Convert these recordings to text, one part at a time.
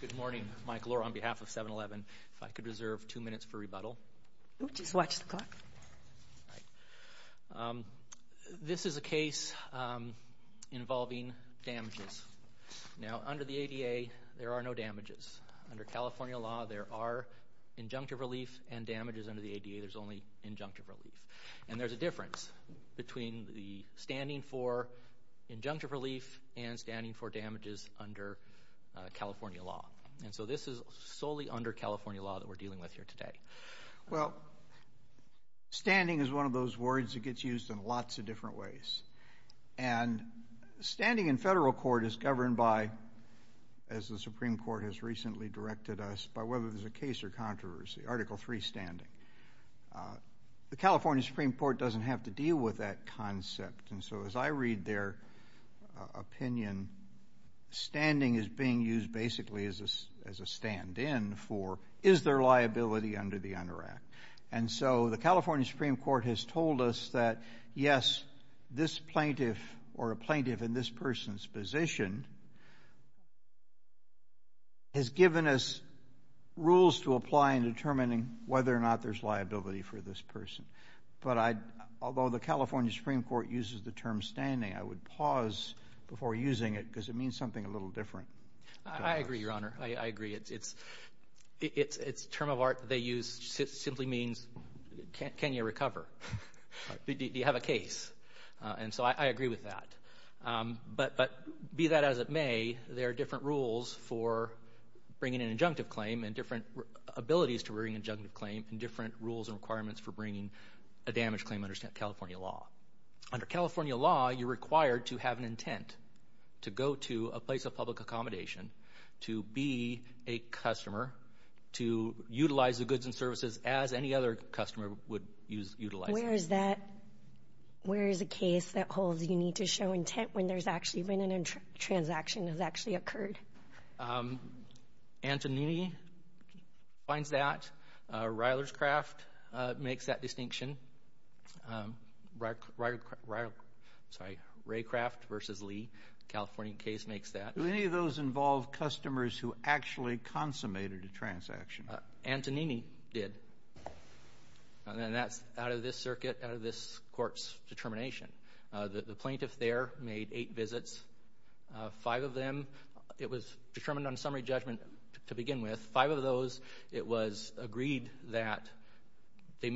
Good morning, Mike Lohr on behalf of 7-Eleven. If I could reserve two minutes for rebuttal. Just watch the clock. This is a case involving damages. Now, under the ADA, there are no damages. Under California law, there are injunctive relief and damages under the ADA. There's only injunctive relief. And there's a difference between the standing for injunctive relief and standing for damages under California law. And so this is solely under California law that we're dealing with here today. Well, standing is one of those words that gets used in lots of different ways. And standing in federal court is governed by, as the Supreme Court has recently directed us, by whether there's a case or controversy, Article III standing. The California Supreme Court doesn't have to deal with that concept. And so as I read their opinion, standing is being used basically as a stand-in for, is there liability under the UNDER Act? And so the California Supreme Court has told us that, yes, this plaintiff or a plaintiff in this person's position has given us rules to apply in determining whether or not there's liability for this person. But although the California Supreme Court uses the term standing, I would pause before using it because it means something a little different. I agree, Your Honor. I agree. It's a term of art they use. It simply means can you recover? Do you have a case? And so I agree with that. But be that as it may, there are different rules for bringing an injunctive claim and different abilities to bring an injunctive claim and different rules and requirements for bringing a damage claim under California law. Under California law, you're required to have an intent to go to a place of public accommodation, to be a customer, to utilize the goods and services as any other customer would utilize them. Where is that? Where is a case that holds you need to show intent when there's actually been a transaction that's actually occurred? Antonini finds that. Ryler's Craft makes that distinction. Sorry, Raycraft v. Lee, California case, makes that. Do any of those involve customers who actually consummated a transaction? Antonini did. And that's out of this circuit, out of this court's determination. The plaintiff there made eight visits. Five of them, it was determined on summary judgment to begin with. Five of those, it was agreed that they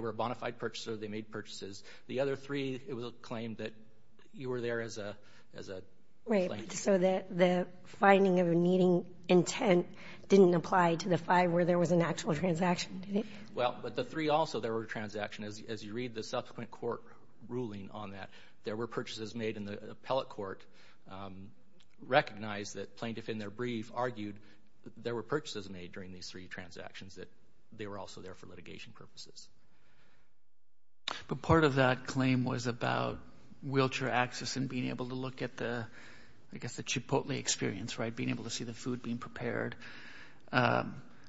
were a bona fide purchaser, they made purchases. The other three, it was claimed that you were there as a plaintiff. Right, so the finding of needing intent didn't apply to the five where there was an actual transaction, did it? Well, but the three also, there were transactions. As you read the subsequent court ruling on that, there were purchases made, and the appellate court recognized that plaintiff in their brief argued that there were purchases made during these three transactions, that they were also there for litigation purposes. But part of that claim was about wheelchair access and being able to look at the, I guess, the Chipotle experience, right, being able to see the food being prepared.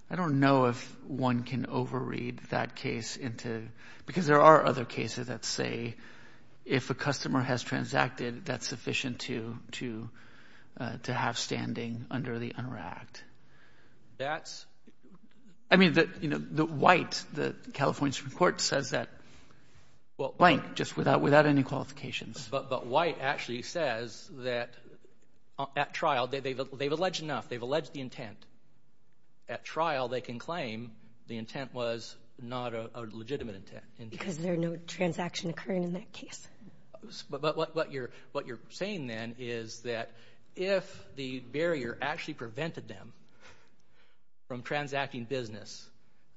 I don't know if one can overread that case into, because there are other cases that say if a customer has transacted, that's sufficient to have standing under the under act. That's — I mean, the White, the California Supreme Court, says that, well, blank, just without any qualifications. But White actually says that at trial, they've alleged enough. They've alleged the intent. At trial, they can claim the intent was not a legitimate intent. Because there are no transactions occurring in that case. But what you're saying, then, is that if the barrier actually prevented them from transacting business,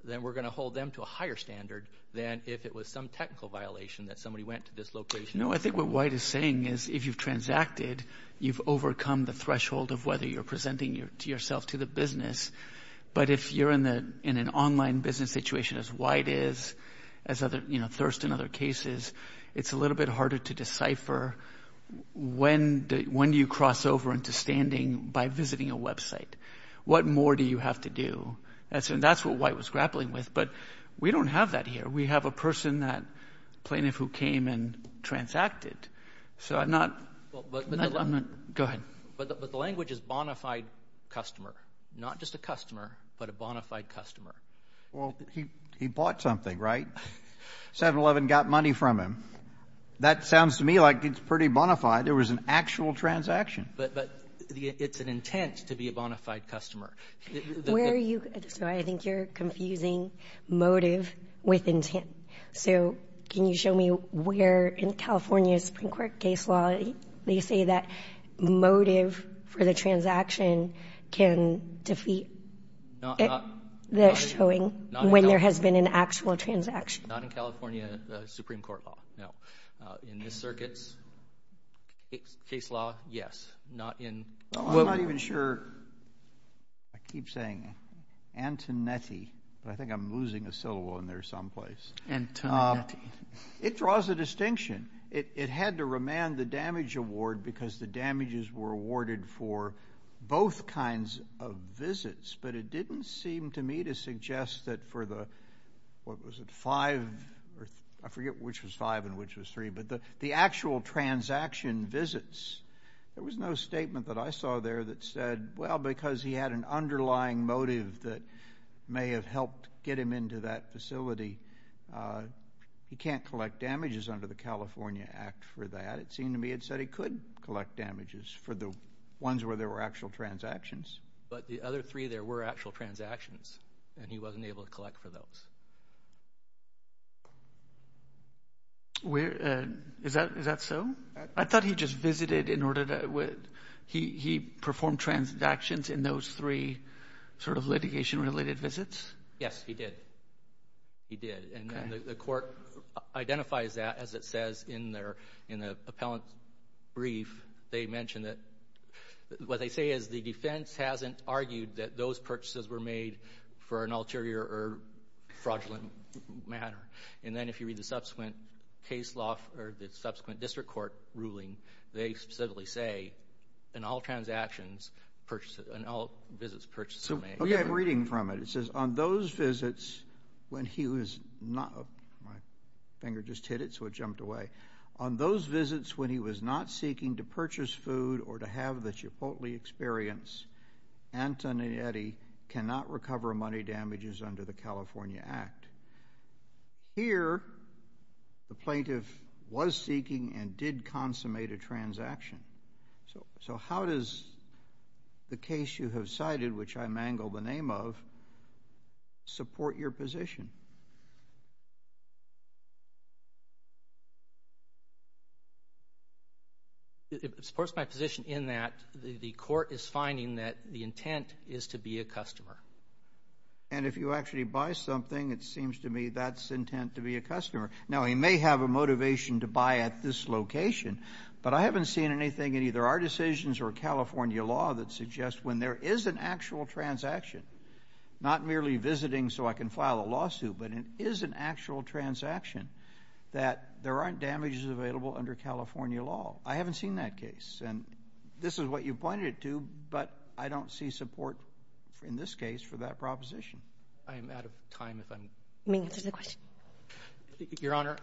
then we're going to hold them to a higher standard than if it was some technical violation that somebody went to this location. No, I think what White is saying is if you've transacted, you've overcome the threshold of whether you're presenting yourself to the business. But if you're in an online business situation as White is, as Thirst and other cases, it's a little bit harder to decipher when do you cross over into standing by visiting a website. What more do you have to do? And that's what White was grappling with. But we don't have that here. We have a person, that plaintiff, who came and transacted. So I'm not — go ahead. But the language is bona fide customer. Not just a customer, but a bona fide customer. Well, he bought something, right? 7-Eleven got money from him. That sounds to me like it's pretty bona fide. It was an actual transaction. But it's an intent to be a bona fide customer. Where are you — so I think you're confusing motive with intent. So can you show me where in California's Supreme Court case law they say that motive for the transaction can defeat the showing when there has been an actual transaction? Not in California Supreme Court law, no. In this circuit's case law, yes. Not in — I'm not even sure. I keep saying Antonetti, but I think I'm losing a syllable in there someplace. Antonetti. It draws a distinction. It had to remand the damage award because the damages were awarded for both kinds of visits. But it didn't seem to me to suggest that for the — what was it, five? I forget which was five and which was three. But the actual transaction visits, there was no statement that I saw there that said, well, because he had an underlying motive that may have helped get him into that facility, he can't collect damages under the California Act for that. It seemed to me it said he could collect damages for the ones where there were actual transactions. But the other three, there were actual transactions, and he wasn't able to collect for those. Is that so? I thought he just visited in order to — he performed transactions in those three sort of litigation-related visits. Yes, he did. And the court identifies that, as it says in the appellant brief. They mention that — what they say is the defense hasn't argued that those purchases were made for an ulterior or fraudulent matter. And then if you read the subsequent case law or the subsequent district court ruling, they specifically say in all transactions, in all visits, purchases were made. Okay, I'm reading from it. It says, on those visits when he was — my finger just hit it, so it jumped away. On those visits when he was not seeking to purchase food or to have the Chipotle experience, Antoninetti cannot recover money damages under the California Act. Here, the plaintiff was seeking and did consummate a transaction. So how does the case you have cited, which I mangle the name of, support your position? It supports my position in that the court is finding that the intent is to be a customer. And if you actually buy something, it seems to me that's intent to be a customer. Now, he may have a motivation to buy at this location, but I haven't seen anything in either our decisions or California law that suggests when there is an actual transaction, not merely visiting so I can file a lawsuit, but it is an actual transaction, that there aren't damages available under California law. I haven't seen that case. And this is what you pointed it to, but I don't see support in this case for that proposition. I am out of time if I'm – You may answer the question. Your Honor,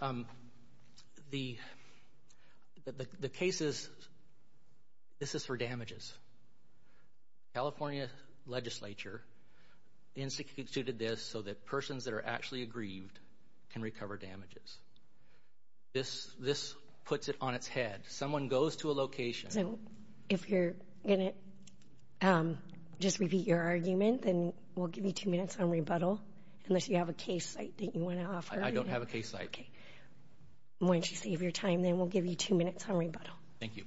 the case is – this is for damages. California legislature instituted this so that persons that are actually aggrieved can recover damages. This puts it on its head. Someone goes to a location – If you're going to just repeat your argument, then we'll give you two minutes on rebuttal, unless you have a case site that you want to offer. I don't have a case site. Okay. Why don't you save your time, then we'll give you two minutes on rebuttal. Thank you.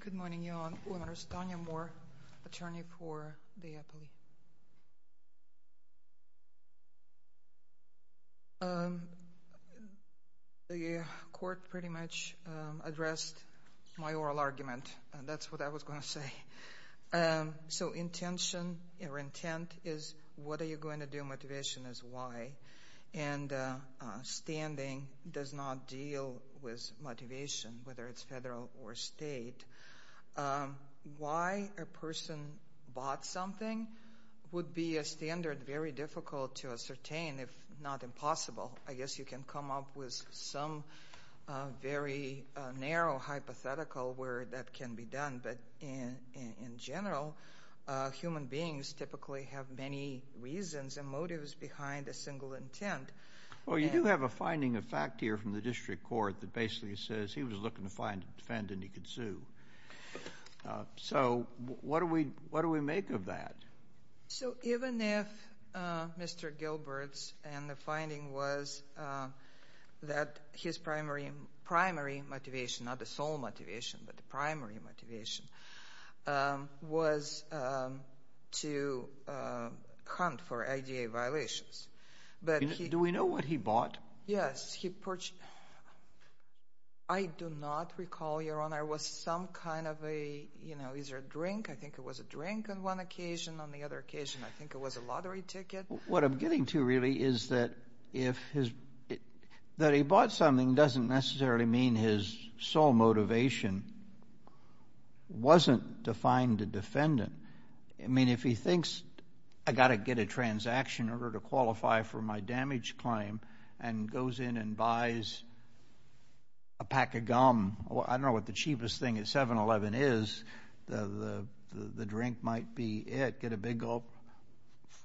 Good morning, Your Honor. My name is Tanya Moore, attorney for the Eppley. The court pretty much addressed my oral argument, and that's what I was going to say. So intention or intent is what are you going to do. Motivation is why. And standing does not deal with motivation, whether it's federal or state. Why a person bought something would be a standard very difficult to ascertain, if not impossible. I guess you can come up with some very narrow hypothetical where that can be done, but in general, human beings typically have many reasons and motives behind a single intent. Well, you do have a finding of fact here from the district court that basically says he was looking to find a defendant he could sue. So what do we make of that? So even if Mr. Gilbert's finding was that his primary motivation, not the sole motivation, but the primary motivation, was to hunt for IDA violations. Do we know what he bought? Yes. I do not recall, Your Honor, was some kind of a, you know, is there a drink? I think it was a drink on one occasion. On the other occasion, I think it was a lottery ticket. What I'm getting to really is that if his, that he bought something doesn't necessarily mean his sole motivation wasn't to find a defendant. I mean, if he thinks I got to get a transaction in order to qualify for my damage claim and goes in and buys a pack of gum, I don't know what the cheapest thing at 7-Eleven is, the drink might be it, get a big gulp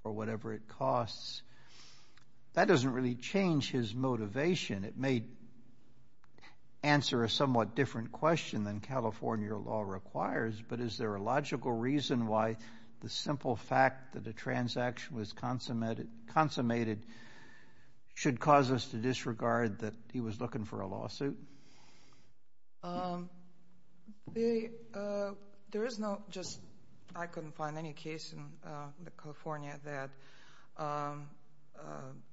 for whatever it costs. That doesn't really change his motivation. It may answer a somewhat different question than California law requires, but is there a logical reason why the simple fact that a transaction was consummated should cause us to disregard that he was looking for a lawsuit? There is no just, I couldn't find any case in California that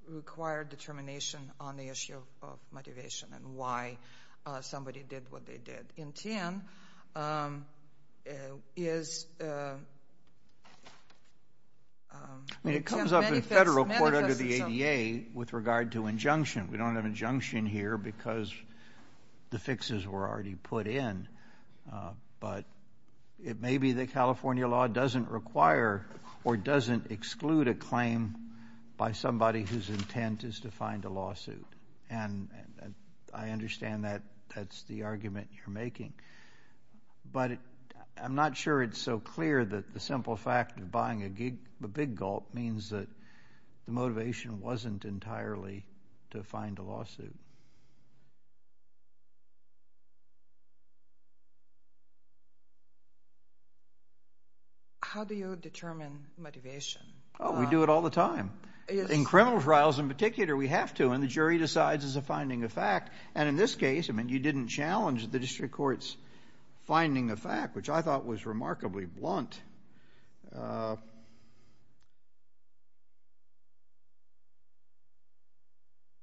required determination on the issue of motivation and why somebody did what they did. In Tien, is... I mean, it comes up in federal court under the ADA with regard to injunction. We don't have injunction here because the fixes were already put in, but it may be that California law doesn't require or doesn't exclude a claim by somebody whose intent is to find a lawsuit. And I understand that that's the argument you're making, but I'm not sure it's so clear that the simple fact of buying a big gulp means that the motivation wasn't entirely to find a lawsuit. How do you determine motivation? Oh, we do it all the time. In criminal trials in particular, we have to, and the jury decides it's a finding of fact. And in this case, I mean, you didn't challenge the district court's finding of fact, which I thought was remarkably blunt.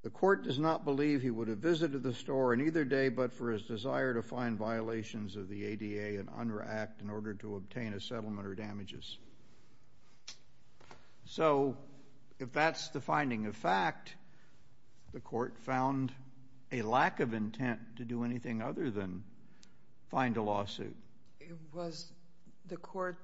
The court does not believe he would have visited the store on either day but for his desire to find violations of the ADA and under act in order to obtain a settlement or damages. So if that's the finding of fact, the court found a lack of intent to do anything other than find a lawsuit. Was the court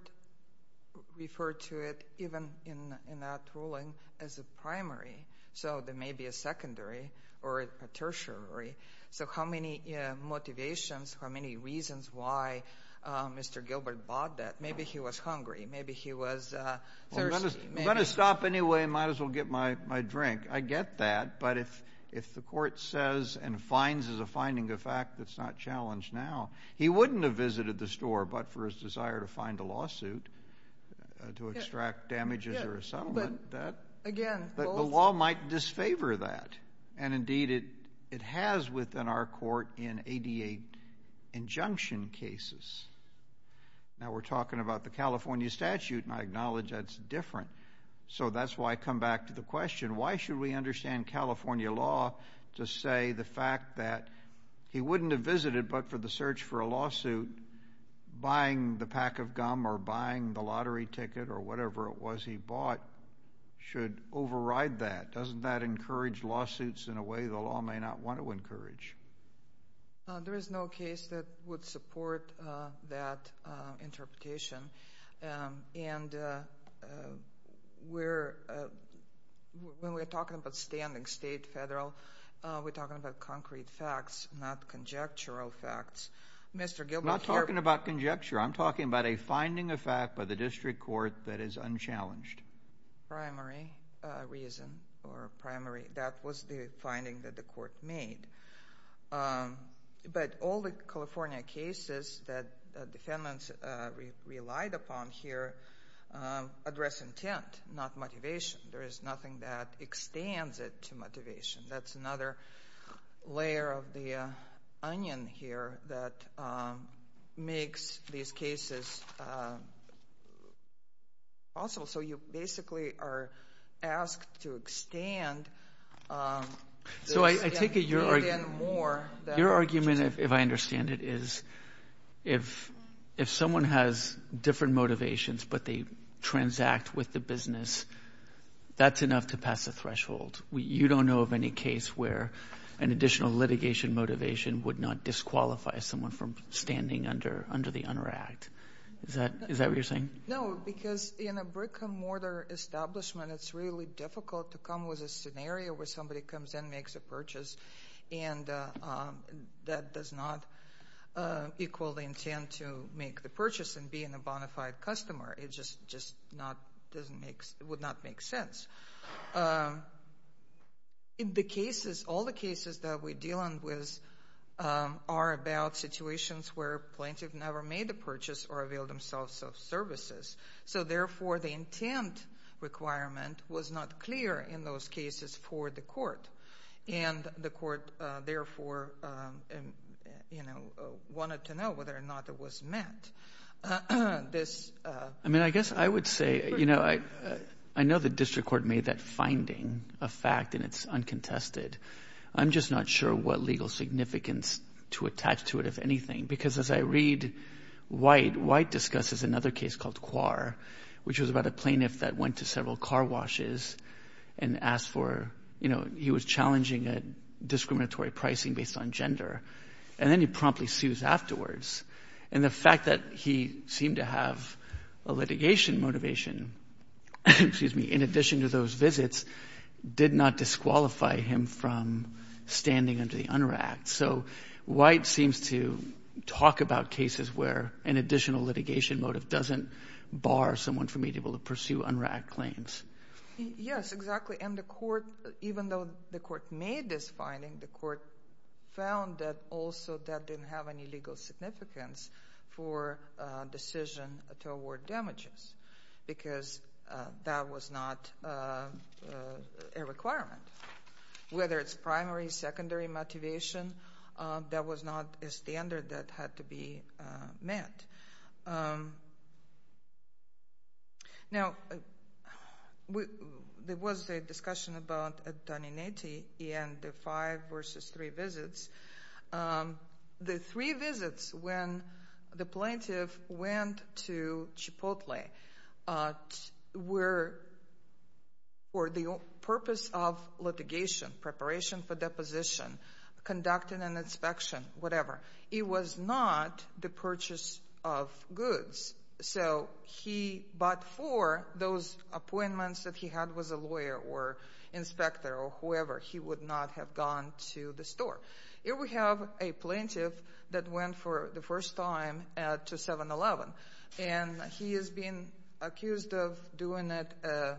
referred to it even in that ruling as a primary? So there may be a secondary or a tertiary. So how many motivations, how many reasons why Mr. Gilbert bought that? Maybe he was hungry. Maybe he was thirsty. I'm going to stop anyway and might as well get my drink. I get that. But if the court says and finds there's a finding of fact that's not challenged now, he wouldn't have visited the store but for his desire to find a lawsuit to extract damages or a settlement. But the law might disfavor that. And, indeed, it has within our court in ADA injunction cases. Now we're talking about the California statute, and I acknowledge that's different. So that's why I come back to the question, why should we understand California law to say the fact that he wouldn't have visited but for the search for a lawsuit, buying the pack of gum or buying the lottery ticket or whatever it was he bought should override that? Doesn't that encourage lawsuits in a way the law may not want to encourage? There is no case that would support that interpretation. And when we're talking about standing state, federal, we're talking about concrete facts, not conjectural facts. Mr. Gilbert, here. I'm not talking about conjecture. I'm talking about a finding of fact by the district court that is unchallenged. Primary reason or primary. That was the finding that the court made. But all the California cases that defendants relied upon here address intent, not motivation. There is nothing that extends it to motivation. That's another layer of the onion here that makes these cases possible. So you basically are asked to extend. So I take it your argument, if I understand it, is if someone has different motivations but they transact with the business, that's enough to pass the threshold. You don't know of any case where an additional litigation motivation would not disqualify someone from standing under the UNRRACT. Is that what you're saying? No, because in a brick-and-mortar establishment, it's really difficult to come with a scenario where somebody comes in, makes a purchase, and that does not equal the intent to make the purchase in being a bona fide customer. It just would not make sense. In the cases, all the cases that we're dealing with are about situations where plaintiffs never made the purchase or availed themselves of services. So, therefore, the intent requirement was not clear in those cases for the court, and the court, therefore, wanted to know whether or not it was met. I mean, I guess I would say, you know, I know the district court made that finding a fact, and it's uncontested. I'm just not sure what legal significance to attach to it, if anything, because as I read White, White discusses another case called Quar, which was about a plaintiff that went to several car washes and asked for, you know, he was challenging a discriminatory pricing based on gender, and then he promptly sues afterwards. And the fact that he seemed to have a litigation motivation, excuse me, in addition to those visits, did not disqualify him from standing under the UNRRAC. So White seems to talk about cases where an additional litigation motive doesn't bar someone from being able to pursue UNRRAC claims. Yes, exactly. And the court, even though the court made this finding, the court found that also that didn't have any legal significance for decision toward damages because that was not a requirement. Whether it's primary, secondary motivation, that was not a standard that had to be met. Now, there was a discussion about Doninetti and the five versus three visits. The three visits when the plaintiff went to Chipotle were for the purpose of litigation, preparation for deposition, conducting an inspection, whatever. It was not the purchase of goods. So he, but for those appointments that he had with a lawyer or inspector or whoever, he would not have gone to the store. Here we have a plaintiff that went for the first time to 7-Eleven, and he is being accused of doing this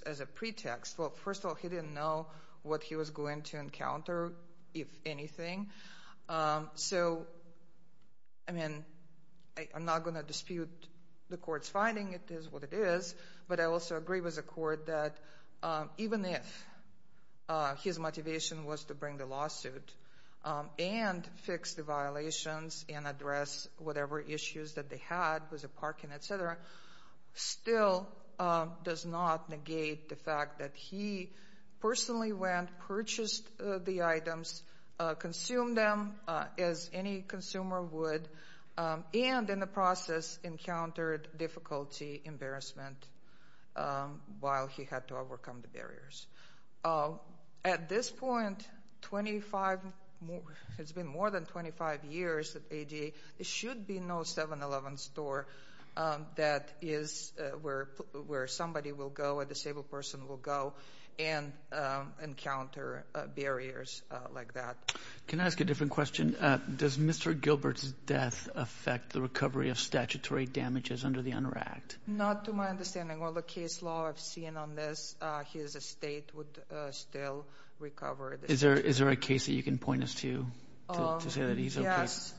as a pretext. Well, first of all, he didn't know what he was going to encounter, if anything. So, I mean, I'm not going to dispute the court's finding. It is what it is. But I also agree with the court that even if his motivation was to bring the lawsuit and fix the violations and address whatever issues that they had with the parking, et cetera, still does not negate the fact that he personally went, purchased the items, consumed them as any consumer would, and in the process encountered difficulty, embarrassment while he had to overcome the barriers. At this point, 25, it's been more than 25 years at ADA, there should be no 7-Eleven store that is where somebody will go, a disabled person will go and encounter barriers like that. Can I ask a different question? Does Mr. Gilbert's death affect the recovery of statutory damages under the UNRRACT? Not to my understanding. Well, the case law I've seen on this, his estate would still recover. Is there a case that you can point us to to say that he's okay? Yes.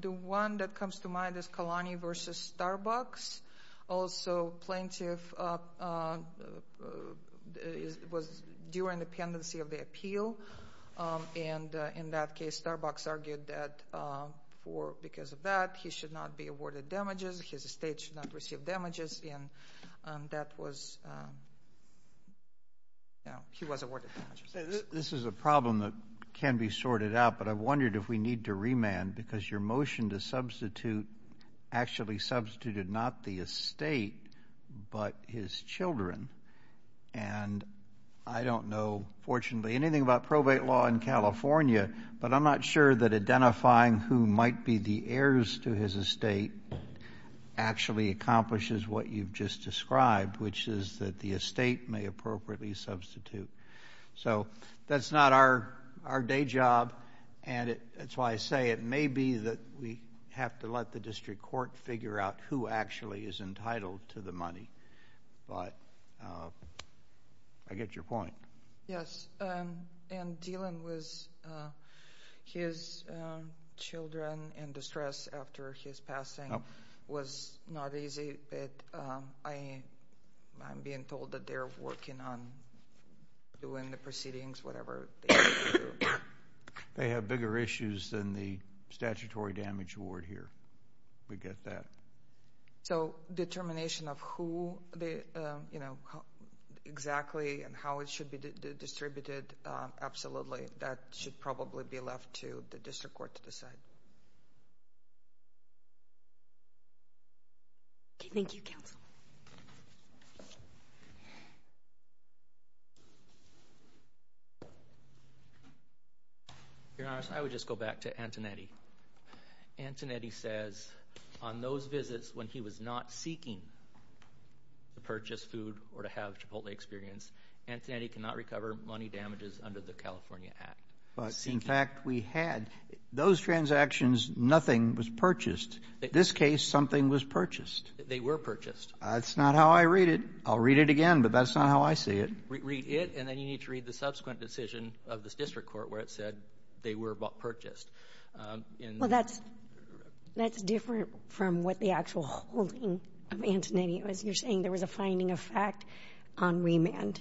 The one that comes to mind is Kalani v. Starbucks. Also, plaintiff was during the pendency of the appeal, and in that case Starbucks argued that because of that he should not be awarded damages, his estate should not receive damages, and that was, you know, he was awarded damages. This is a problem that can be sorted out, but I wondered if we need to remand because your motion to substitute actually substituted not the estate but his children, and I don't know fortunately anything about probate law in California, but I'm not sure that identifying who might be the heirs to his estate actually accomplishes what you've just described, which is that the estate may appropriately substitute. So that's not our day job, and that's why I say it may be that we have to let the district court figure out who actually is entitled to the money. But I get your point. Yes, and Dylan was, his children in distress after his passing was not easy. I'm being told that they're working on doing the proceedings, whatever. They have bigger issues than the statutory damage award here. We get that. So determination of who, you know, exactly and how it should be distributed, absolutely that should probably be left to the district court to decide. Okay. Thank you, counsel. Your Honor, I would just go back to Antonetti. Antonetti says on those visits when he was not seeking to purchase food or to have Chipotle experience, Antonetti cannot recover money damages under the California Act. But, in fact, we had. Those transactions, nothing was purchased. In this case, something was purchased. They were purchased. That's not how I read it. I'll read it again, but that's not how I see it. Read it, and then you need to read the subsequent decision of the district court where it said they were purchased. Well, that's different from what the actual holding of Antonetti was. You're saying there was a finding of fact on remand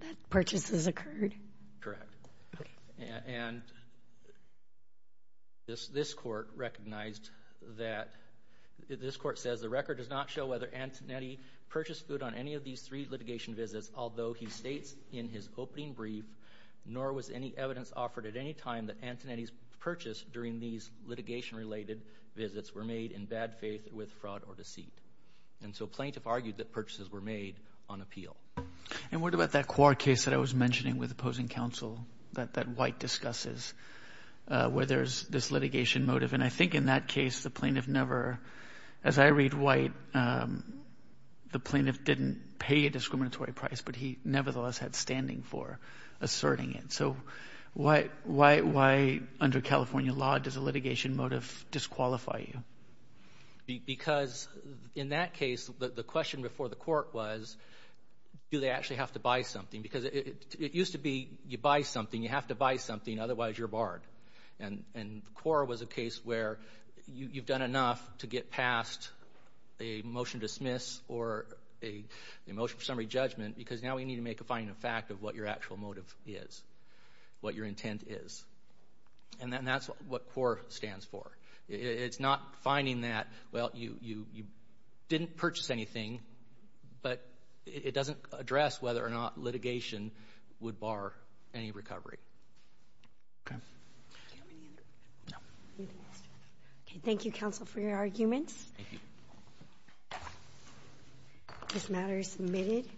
that purchases occurred? Correct. And this court recognized that. This court says the record does not show whether Antonetti purchased food on any of these three litigation visits, although he states in his opening brief, nor was any evidence offered at any time that Antonetti's purchase during these litigation-related visits were made in bad faith with fraud or deceit. And so plaintiff argued that purchases were made on appeal. And what about that Quar case that I was mentioning with opposing counsel that White discusses where there's this litigation motive? And I think in that case the plaintiff never, as I read White, the plaintiff didn't pay a discriminatory price, but he nevertheless had standing for asserting it. So why under California law does a litigation motive disqualify you? Because in that case the question before the court was, do they actually have to buy something? Because it used to be you buy something, you have to buy something, otherwise you're barred. And Quar was a case where you've done enough to get past a motion to dismiss or a motion for summary judgment because now we need to make a finding of fact of what your actual motive is, what your intent is. And that's what Quar stands for. It's not finding that, well, you didn't purchase anything, but it doesn't address whether or not litigation would bar any recovery. Okay. Thank you, counsel, for your arguments. Thank you. This matter is submitted.